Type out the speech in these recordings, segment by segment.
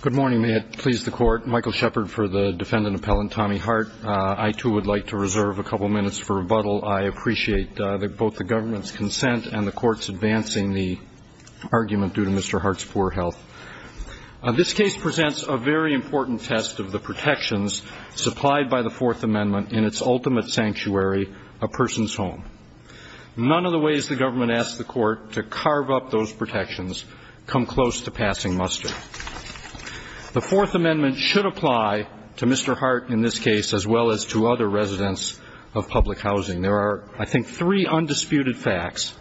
Good morning. May it please the Court. Michael Shepard for the defendant appellant Tommy Hart. I too would like to reserve a couple minutes for rebuttal. I appreciate both the government's consent and the Court's advancing the argument due to Mr. Hart's poor health. This case presents a very important test of the protections supplied by the Fourth Amendment in its ultimate sanctuary, a person's home. None of the ways the government asks the Court to carve up those protections come close to passing muster. The Fourth Amendment should apply to Mr. Hart in this case as well as to other residents of public housing. There are, I think, three undisputed facts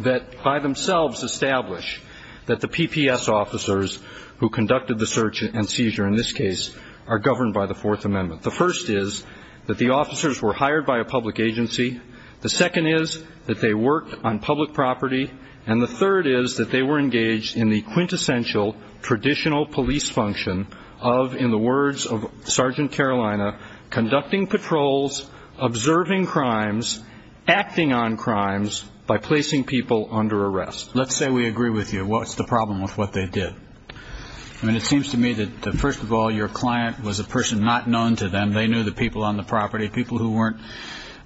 that by themselves establish that the PPS officers who conducted the search and seizure in this case are governed by the Fourth Amendment. The first is that the officers were hired by a public agency. The second is that they worked on public property. And the third is that they were engaged in the quintessential traditional police function of, in the words of Sergeant Carolina, conducting patrols, observing crimes, acting on crimes by placing people under arrest. Let's say we agree with you. What's the problem with what they did? I mean, it seems to me that, first of all, your client was a person not known to them. They knew the people on the property, people who weren't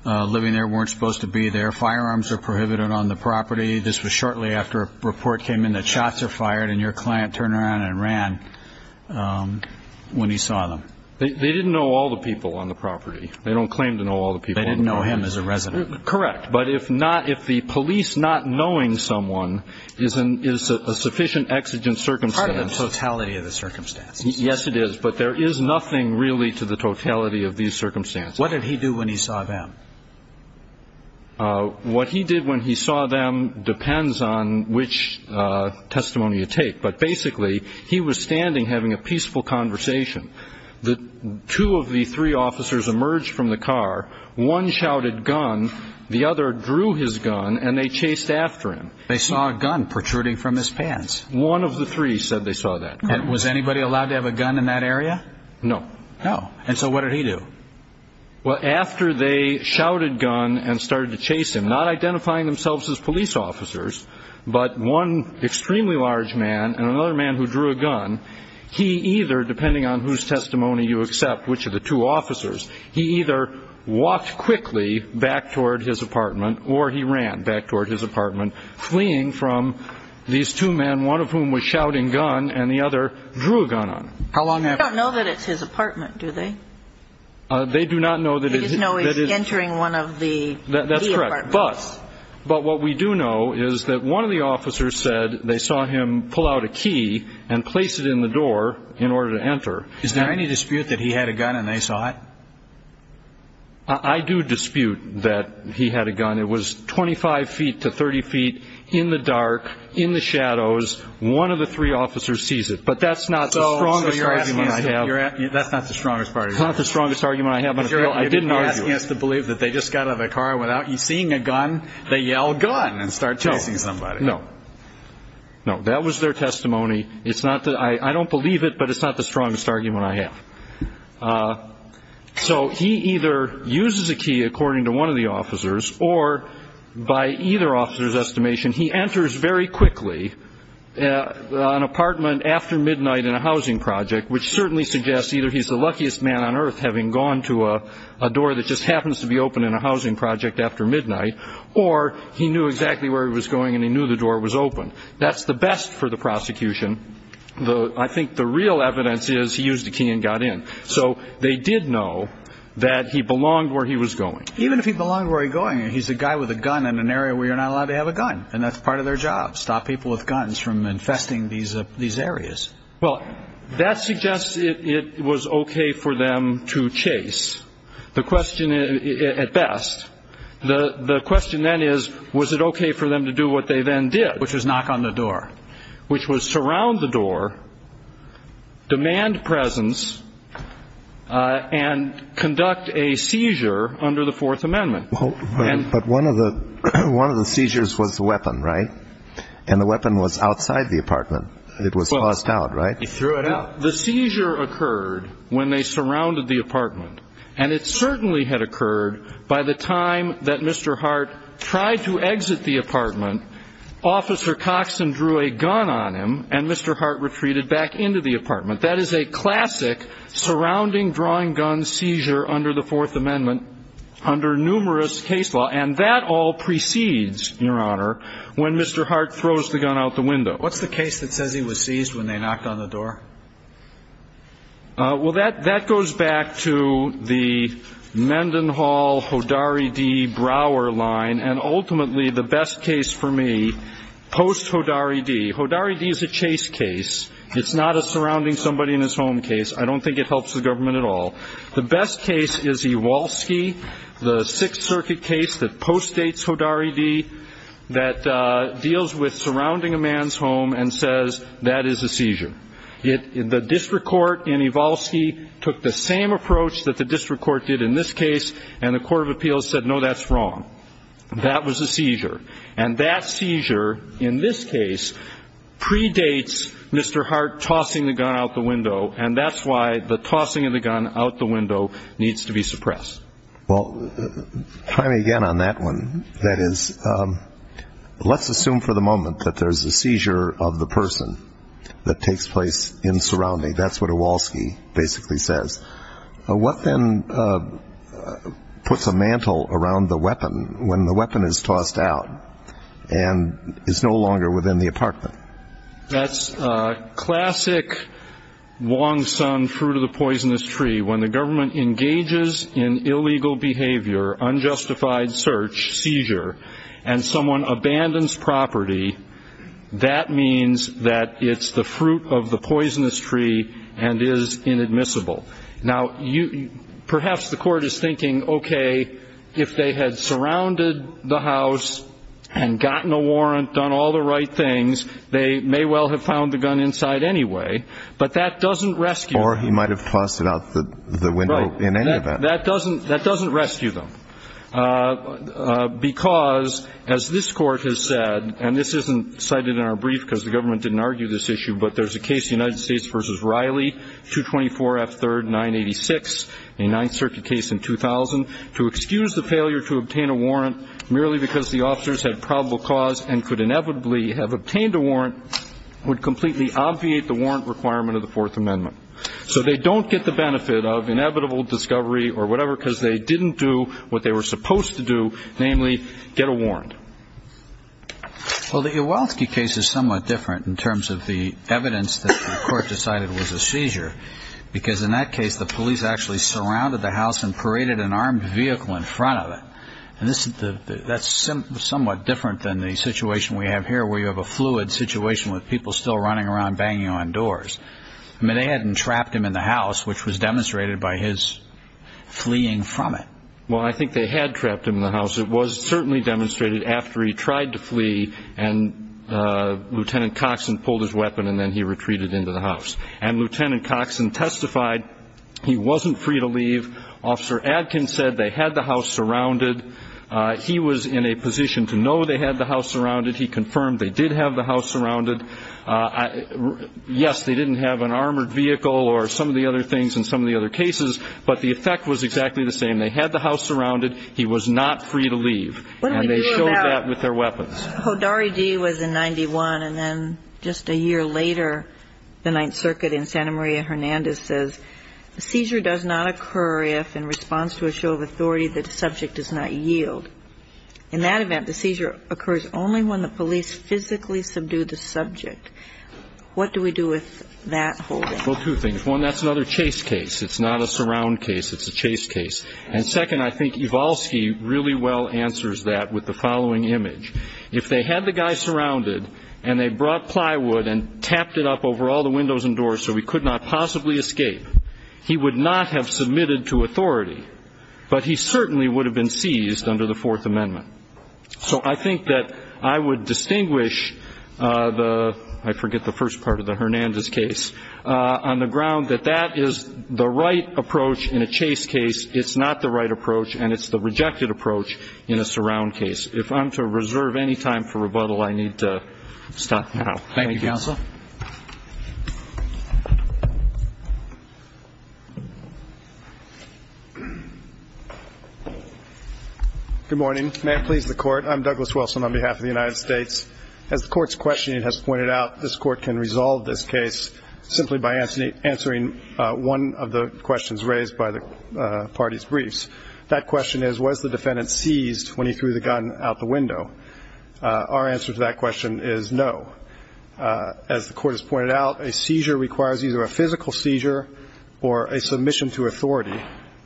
living there weren't supposed to be there. Firearms are prohibited on the property. This was shortly after a report came in that shots were fired and your client turned around and ran when he saw them. They didn't know all the people on the property. They don't claim to know all the people on the property. They didn't know him as a resident. Correct. But if not, if the police not knowing someone is a sufficient exigent circumstance. It's part of the totality of the circumstances. Yes, it is. But there is nothing really to the totality of these circumstances. What did he do when he saw them? What he did when he saw them depends on which testimony you take. But basically, he was standing having a peaceful conversation. Two of the three officers emerged from the car. One shouted gun. The other drew his gun and they chased after him. They saw a gun protruding from his pants. One of the three said they saw that. Was anybody allowed to have a gun in that area? No. No. And so what did he do? Well, after they shouted gun and started to chase him, not identifying themselves as police officers, but one extremely large man and another man who drew a gun. He either, depending on whose testimony you accept, which of the two officers, he either walked quickly back toward his apartment or he ran back toward his apartment, fleeing from these two men, one of whom was shouting gun and the other drew a gun on him. They don't know that it's his apartment, do they? They do not know that it is. They just know he's entering one of the apartments. That's correct. But what we do know is that one of the officers said they saw him pull out a key and place it in the door in order to enter. Is there any dispute that he had a gun and they saw it? I do dispute that he had a gun. It was 25 feet to 30 feet in the dark, in the shadows. One of the three officers sees it. But that's not the strongest argument I have. That's not the strongest argument. It's not the strongest argument I have, but I didn't argue it. You're asking us to believe that they just got out of the car without seeing a gun, they yelled gun and started chasing somebody. No. No, that was their testimony. It's not that I don't believe it, but it's not the strongest argument I have. So he either uses a key, according to one of the officers, or by either officer's estimation, he enters very quickly an apartment after midnight in a housing project, which certainly suggests either he's the luckiest man on earth, having gone to a door that just happens to be open in a housing project after midnight, or he knew exactly where he was going and he knew the door was open. That's the best for the prosecution. I think the real evidence is he used a key and got in. So they did know that he belonged where he was going. Even if he belonged where he was going, he's a guy with a gun in an area where you're not allowed to have a gun, and that's part of their job, stop people with guns from infesting these areas. Well, that suggests it was okay for them to chase, at best. The question then is, was it okay for them to do what they then did? Which was knock on the door. Which was surround the door, demand presence, and conduct a seizure under the Fourth Amendment. But one of the seizures was the weapon, right? And the weapon was outside the apartment. It was tossed out, right? He threw it out. The seizure occurred when they surrounded the apartment, and it certainly had occurred by the time that Mr. Hart tried to exit the apartment, Officer Coxon drew a gun on him, and Mr. Hart retreated back into the apartment. That is a classic surrounding drawing gun seizure under the Fourth Amendment under numerous case law. And that all precedes, Your Honor, when Mr. Hart throws the gun out the window. What's the case that says he was seized when they knocked on the door? Well, that goes back to the Mendenhall Hodari D. Brower line, and ultimately the best case for me, post Hodari D. Hodari D. is a chase case. It's not a surrounding somebody in his home case. I don't think it helps the government at all. The best case is Ewalski, the Sixth Circuit case that postdates Hodari D. that deals with surrounding a man's home and says that is a seizure. The district court in Ewalski took the same approach that the district court did in this case, and the Court of Appeals said, no, that's wrong. That was a seizure. And that seizure in this case predates Mr. Hart tossing the gun out the window, and that's why the tossing of the gun out the window needs to be suppressed. Well, try me again on that one. That is, let's assume for the moment that there's a seizure of the person that takes place in surrounding. That's what Ewalski basically says. What then puts a mantle around the weapon when the weapon is tossed out and is no longer within the apartment? That's classic Wong-Sun fruit of the poisonous tree. When the government engages in illegal behavior, unjustified search, seizure, and someone abandons property, that means that it's the fruit of the poisonous tree and is inadmissible. Now, perhaps the court is thinking, okay, if they had surrounded the house and gotten a warrant, done all the right things, they may well have found the gun inside anyway, but that doesn't rescue. Or he might have tossed it out the window in any event. Right. That doesn't rescue them because, as this Court has said, and this isn't cited in our brief because the government didn't argue this issue, but there's a case, the United States v. Riley, 224 F. 3rd, 986, a Ninth Circuit case in 2000, to excuse the failure to obtain a warrant merely because the officers had probable cause and could inevitably have obtained a warrant would completely obviate the warrant requirement of the Fourth Amendment. So they don't get the benefit of inevitable discovery or whatever because they didn't do what they were supposed to do, namely get a warrant. Well, the Uwaltzky case is somewhat different in terms of the evidence that the Court decided was a seizure because in that case the police actually surrounded the house and paraded an armed vehicle in front of it. And that's somewhat different than the situation we have here where you have a fluid situation with people still running around banging on doors. I mean, they hadn't trapped him in the house, which was demonstrated by his fleeing from it. Well, I think they had trapped him in the house. It was certainly demonstrated after he tried to flee and Lieutenant Coxon pulled his weapon and then he retreated into the house. And Lieutenant Coxon testified he wasn't free to leave. Officer Adkins said they had the house surrounded. He was in a position to know they had the house surrounded. He confirmed they did have the house surrounded. Yes, they didn't have an armored vehicle or some of the other things in some of the other cases, but the effect was exactly the same. They had the house surrounded. He was not free to leave. And they showed that with their weapons. Hodari D. was in 91. And then just a year later, the Ninth Circuit in Santa Maria, Hernandez, says the seizure does not occur if, in response to a show of authority, the subject does not yield. In that event, the seizure occurs only when the police physically subdue the subject. What do we do with that holding? Well, two things. One, that's another chase case. It's not a surround case. It's a chase case. And second, I think Iwalski really well answers that with the following image. If they had the guy surrounded and they brought plywood and tapped it up over all the windows and doors so he could not possibly escape, he would not have submitted to authority, but he certainly would have been seized under the Fourth Amendment. So I think that I would distinguish the, I forget the first part of the Hernandez case, on the ground that that is the right approach in a chase case. It's not the right approach, and it's the rejected approach in a surround case. If I'm to reserve any time for rebuttal, I need to stop now. Thank you, Counsel. Good morning. May it please the Court, I'm Douglas Wilson on behalf of the United States. As the Court's questioning has pointed out, this Court can resolve this case simply by answering one of the questions raised by the party's briefs. That question is, was the defendant seized when he threw the gun out the window? Our answer to that question is no. As the Court has pointed out, a seizure requires either a physical seizure or a submission to authority.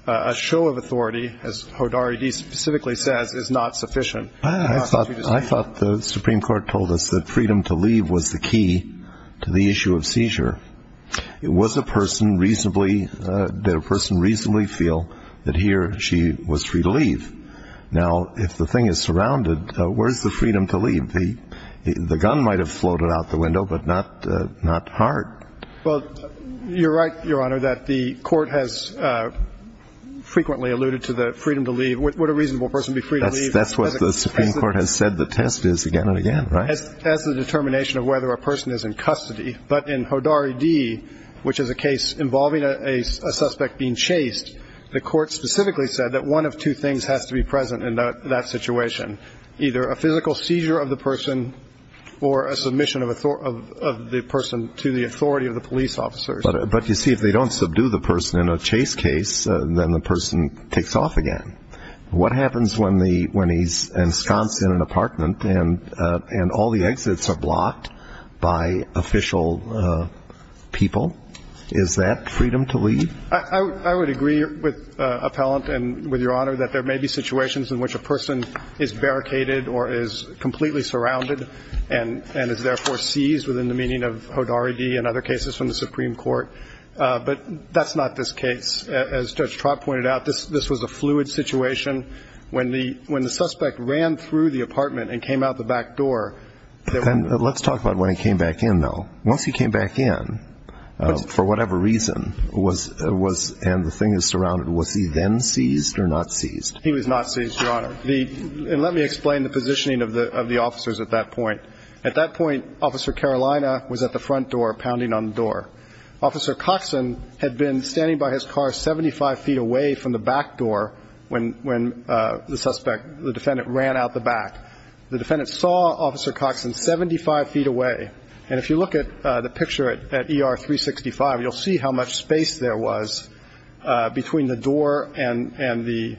A show of authority, as Hodari specifically says, is not sufficient. I thought the Supreme Court told us that freedom to leave was the key to the issue of seizure. Was a person reasonably, did a person reasonably feel that he or she was free to leave? Now, if the thing is surrounded, where is the freedom to leave? The gun might have floated out the window, but not hard. Well, you're right, Your Honor, that the Court has frequently alluded to the freedom to leave. Would a reasonable person be free to leave? That's what the Supreme Court has said the test is again and again, right? As the determination of whether a person is in custody, but in Hodari D., which is a case involving a suspect being chased, the Court specifically said that one of two things has to be present in that situation, either a physical seizure of the person or a submission of the person to the authority of the police officers. But you see, if they don't subdue the person in a chase case, then the person takes off again. What happens when he's ensconced in an apartment and all the exits are blocked by official people? Is that freedom to leave? I would agree with Appellant and with Your Honor that there may be situations in which a person is barricaded or is completely surrounded and is therefore seized within the meaning of Hodari D. and other cases from the Supreme Court. But that's not this case. As Judge Trott pointed out, this was a fluid situation. When the suspect ran through the apartment and came out the back door. Let's talk about when he came back in, though. Once he came back in, for whatever reason, and the thing is surrounded, was he then seized or not seized? He was not seized, Your Honor. And let me explain the positioning of the officers at that point. At that point, Officer Carolina was at the front door pounding on the door. Officer Coxon had been standing by his car 75 feet away from the back door when the suspect, the defendant, ran out the back. The defendant saw Officer Coxon 75 feet away. And if you look at the picture at ER 365, you'll see how much space there was between the door and the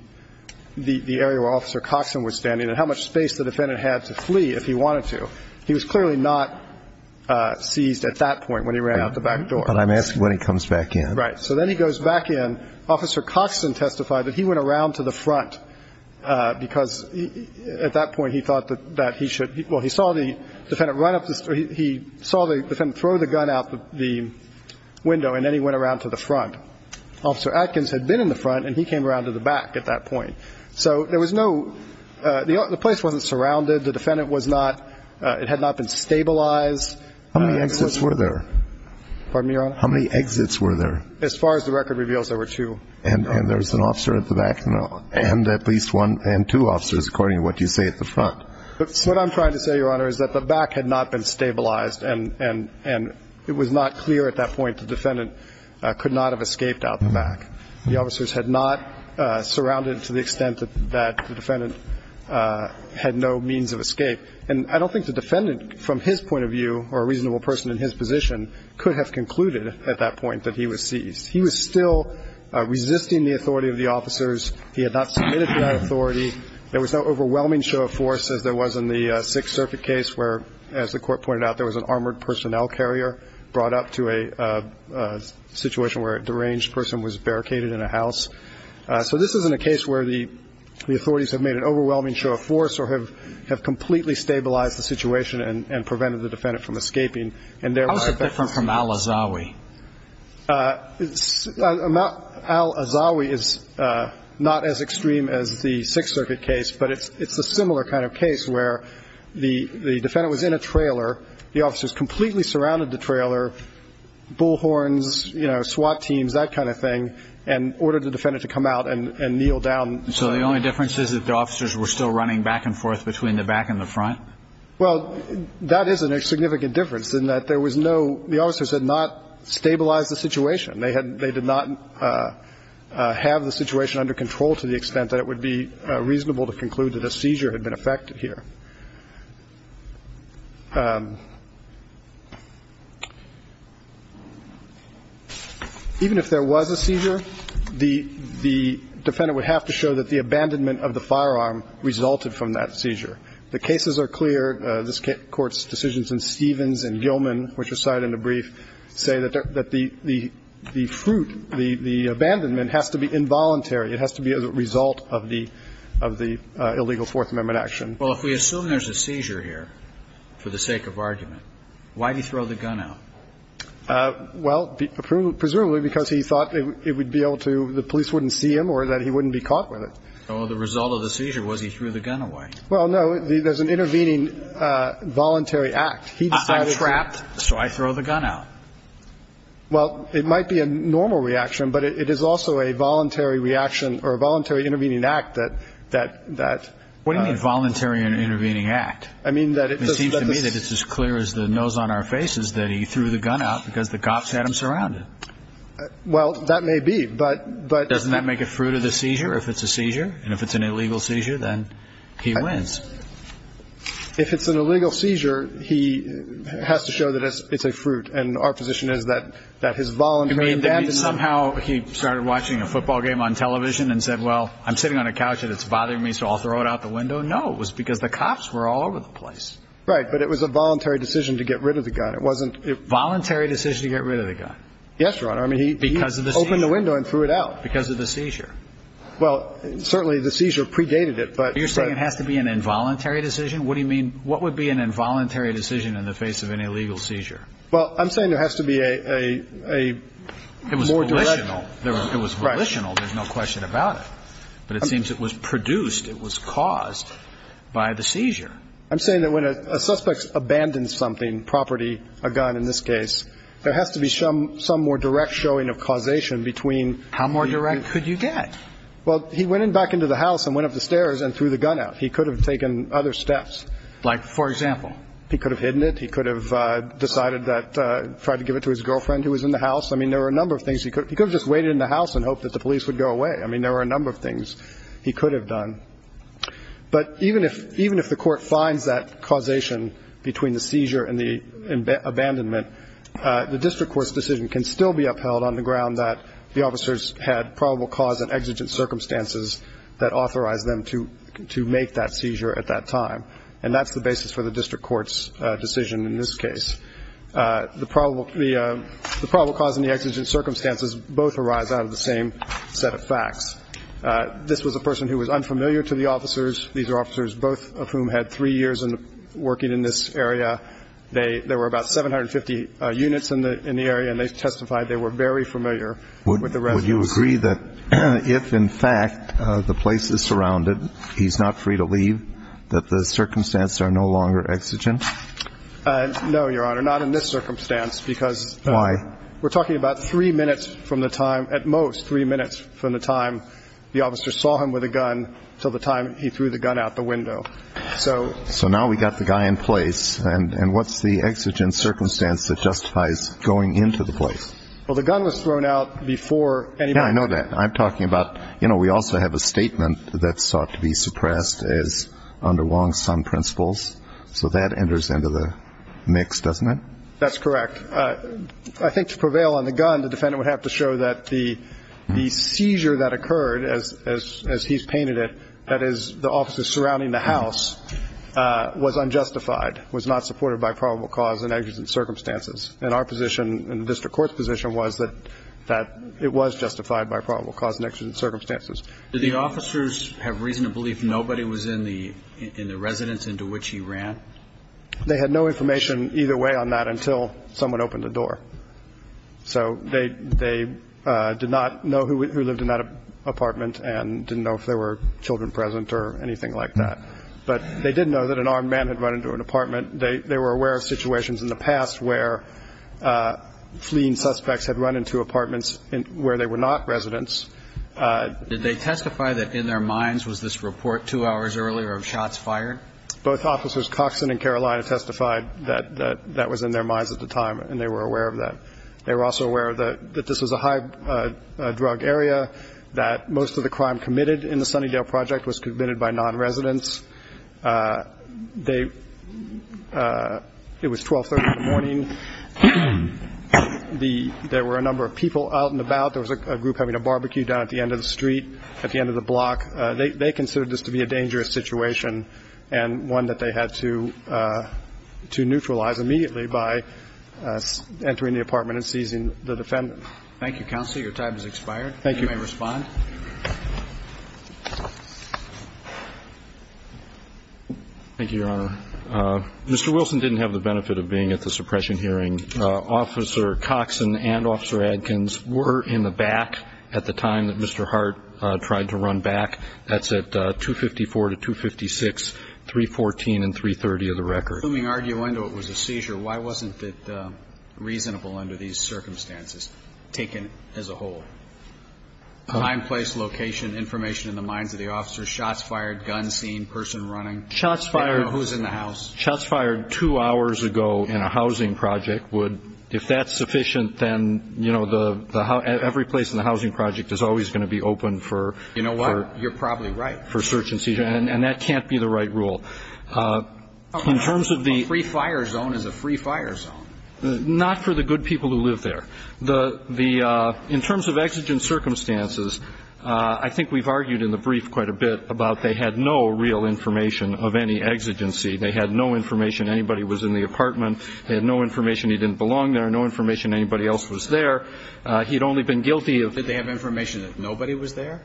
area where Officer Coxon was standing and how much space the defendant had to flee if he wanted to. So he was clearly not seized at that point when he ran out the back door. But I'm asking when he comes back in. Right. So then he goes back in. Officer Coxon testified that he went around to the front because at that point he thought that he should. Well, he saw the defendant throw the gun out the window, and then he went around to the front. Officer Atkins had been in the front, and he came around to the back at that point. So there was no – the place wasn't surrounded. The defendant was not – it had not been stabilized. How many exits were there? Pardon me, Your Honor? How many exits were there? As far as the record reveals, there were two. And there was an officer at the back and at least one and two officers, according to what you say at the front. What I'm trying to say, Your Honor, is that the back had not been stabilized, and it was not clear at that point the defendant could not have escaped out the back. The officers had not surrounded to the extent that the defendant had no means of escape. And I don't think the defendant, from his point of view or a reasonable person in his position, could have concluded at that point that he was seized. He was still resisting the authority of the officers. He had not submitted to that authority. There was no overwhelming show of force as there was in the Sixth Circuit case where, as the Court pointed out, there was an armored personnel carrier brought up to a situation where a deranged person was barricaded in a house. So this isn't a case where the authorities have made an overwhelming show of force or have completely stabilized the situation and prevented the defendant from escaping. How is it different from Al-Azawi? Al-Azawi is not as extreme as the Sixth Circuit case, but it's a similar kind of case where the defendant was in a trailer, the officers completely surrounded the trailer, bullhorns, you know, SWAT teams, that kind of thing, and ordered the defendant to come out and kneel down. So the only difference is that the officers were still running back and forth between the back and the front? Well, that is a significant difference in that there was no – the officers had not stabilized the situation. They did not have the situation under control to the extent that it would be reasonable to conclude that a seizure had been effected here. Even if there was a seizure, the defendant would have to show that the abandonment of the firearm resulted from that seizure. The cases are clear. This Court's decisions in Stevens and Gilman, which are cited in the brief, say that the fruit, the abandonment, has to be involuntary. It has to be a result of the illegal Fourth Amendment action. Well, if we assume there's a seizure here for the sake of argument, why do you throw the gun out? Well, presumably because he thought it would be able to – the police wouldn't see him or that he wouldn't be caught with it. Well, the result of the seizure was he threw the gun away. Well, no, there's an intervening voluntary act. He decided to – I'm trapped, so I throw the gun out. Well, it might be a normal reaction, but it is also a voluntary reaction or a voluntary intervening act that – What do you mean voluntary and intervening act? I mean that – It seems to me that it's as clear as the nose on our faces that he threw the gun out because the cops had him surrounded. Well, that may be, but – If it's an illegal seizure, he has to show that it's a fruit, and our position is that his voluntary abandonment – You mean that somehow he started watching a football game on television and said, well, I'm sitting on a couch and it's bothering me, so I'll throw it out the window? No, it was because the cops were all over the place. Right, but it was a voluntary decision to get rid of the gun. It wasn't – Voluntary decision to get rid of the gun. Yes, Your Honor. I mean, he – Because of the seizure. He opened the window and threw it out. Because of the seizure. Well, certainly the seizure predated it, but – So you're saying it has to be an involuntary decision? What do you mean – What would be an involuntary decision in the face of an illegal seizure? Well, I'm saying there has to be a more direct – It was volitional. It was volitional. There's no question about it. But it seems it was produced, it was caused by the seizure. I'm saying that when a suspect abandons something, property, a gun in this case, there has to be some more direct showing of causation between – How more direct could you get? Well, he went back into the house and went up the stairs and threw the gun out. He could have taken other steps. Like, for example? He could have hidden it. He could have decided that – tried to give it to his girlfriend who was in the house. I mean, there were a number of things. He could have just waited in the house and hoped that the police would go away. I mean, there were a number of things he could have done. But even if the court finds that causation between the seizure and the abandonment, the district court's decision can still be upheld on the ground that the officers had probable cause and exigent circumstances that authorized them to make that seizure at that time. And that's the basis for the district court's decision in this case. The probable cause and the exigent circumstances both arise out of the same set of facts. This was a person who was unfamiliar to the officers. These are officers, both of whom had three years working in this area. There were about 750 units in the area, and they testified they were very familiar with the residents. Would you agree that if, in fact, the place is surrounded, he's not free to leave, that the circumstances are no longer exigent? No, Your Honor, not in this circumstance because – Why? We're talking about three minutes from the time – at most three minutes from the time the officer saw him with a gun until the time he threw the gun out the window. So – So now we've got the guy in place, and what's the exigent circumstance that justifies going into the place? Well, the gun was thrown out before anybody – Yeah, I know that. I'm talking about, you know, we also have a statement that's sought to be suppressed as under Wong-Sun principles. So that enters into the mix, doesn't it? That's correct. I think to prevail on the gun, the defendant would have to show that the seizure that occurred, as he's painted it, that is the officers surrounding the house, was unjustified, was not supported by probable cause and exigent circumstances. And our position in the district court's position was that it was justified by probable cause and exigent circumstances. Did the officers have reason to believe nobody was in the residence into which he ran? They had no information either way on that until someone opened the door. So they did not know who lived in that apartment and didn't know if there were children present or anything like that. But they did know that an armed man had run into an apartment. They were aware of situations in the past where fleeing suspects had run into apartments where they were not residents. Did they testify that in their minds was this report two hours earlier of shots fired? Both Officers Coxson and Carolina testified that that was in their minds at the time, and they were aware of that. They were also aware that this was a high-drug area, that most of the crime committed in the Sunnydale Project was committed by nonresidents. They – it was 1230 in the morning. There were a number of people out and about. There was a group having a barbecue down at the end of the street, at the end of the block. They considered this to be a dangerous situation and one that they had to neutralize immediately by entering the apartment and seizing the defendant. Thank you, counsel. Your time has expired. Thank you. Thank you, Your Honor. Mr. Wilson didn't have the benefit of being at the suppression hearing. Officer Coxson and Officer Adkins were in the back at the time that Mr. Hart tried to run back. That's at 254 to 256, 314 and 330 of the record. Assuming, arguendo, it was a seizure, why wasn't it reasonable under these circumstances, taken as a whole? Time, place, location, information in the minds of the officers, shots fired, gun seen, person running. Shots fired. Who's in the house. Shots fired two hours ago in a housing project would – if that's sufficient, then, you know, every place in the housing project is always going to be open for – You know what? You're probably right. For search and seizure, and that can't be the right rule. In terms of the – A free fire zone is a free fire zone. Not for the good people who live there. The – in terms of exigent circumstances, I think we've argued in the brief quite a bit about they had no real information of any exigency. They had no information anybody was in the apartment. They had no information he didn't belong there, no information anybody else was there. He'd only been guilty of – Did they have information that nobody was there?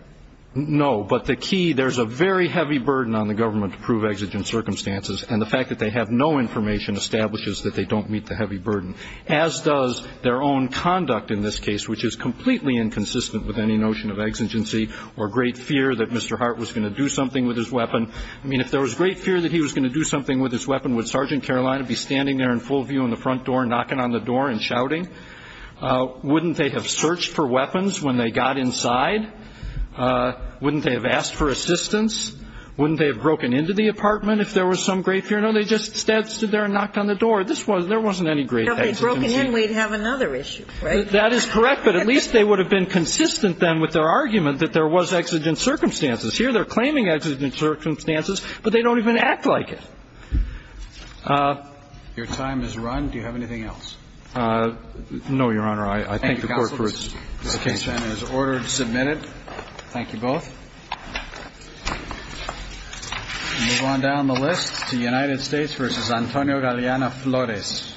No. But the key – there's a very heavy burden on the government to prove exigent circumstances, and the fact that they have no information establishes that they don't meet the heavy burden, as does their own conduct in this case, which is completely inconsistent with any notion of exigency or great fear that Mr. Hart was going to do something with his weapon. I mean, if there was great fear that he was going to do something with his weapon, would Sergeant Carolina be standing there in full view on the front door, knocking on the door and shouting? Wouldn't they have searched for weapons when they got inside? Wouldn't they have asked for assistance? Wouldn't they have broken into the apartment if there was some great fear? No, they just stood there and knocked on the door. There wasn't any great exigency. If they'd broken in, we'd have another issue, right? That is correct, but at least they would have been consistent then with their argument that there was exigent circumstances. Here they're claiming exigent circumstances, but they don't even act like it. Your time has run. Do you have anything else? No, Your Honor. I thank the Court for its case. Thank you, counsel. The case then is ordered, submitted. Thank you both. We'll move on down the list to United States v. Antonio Galeano Flores.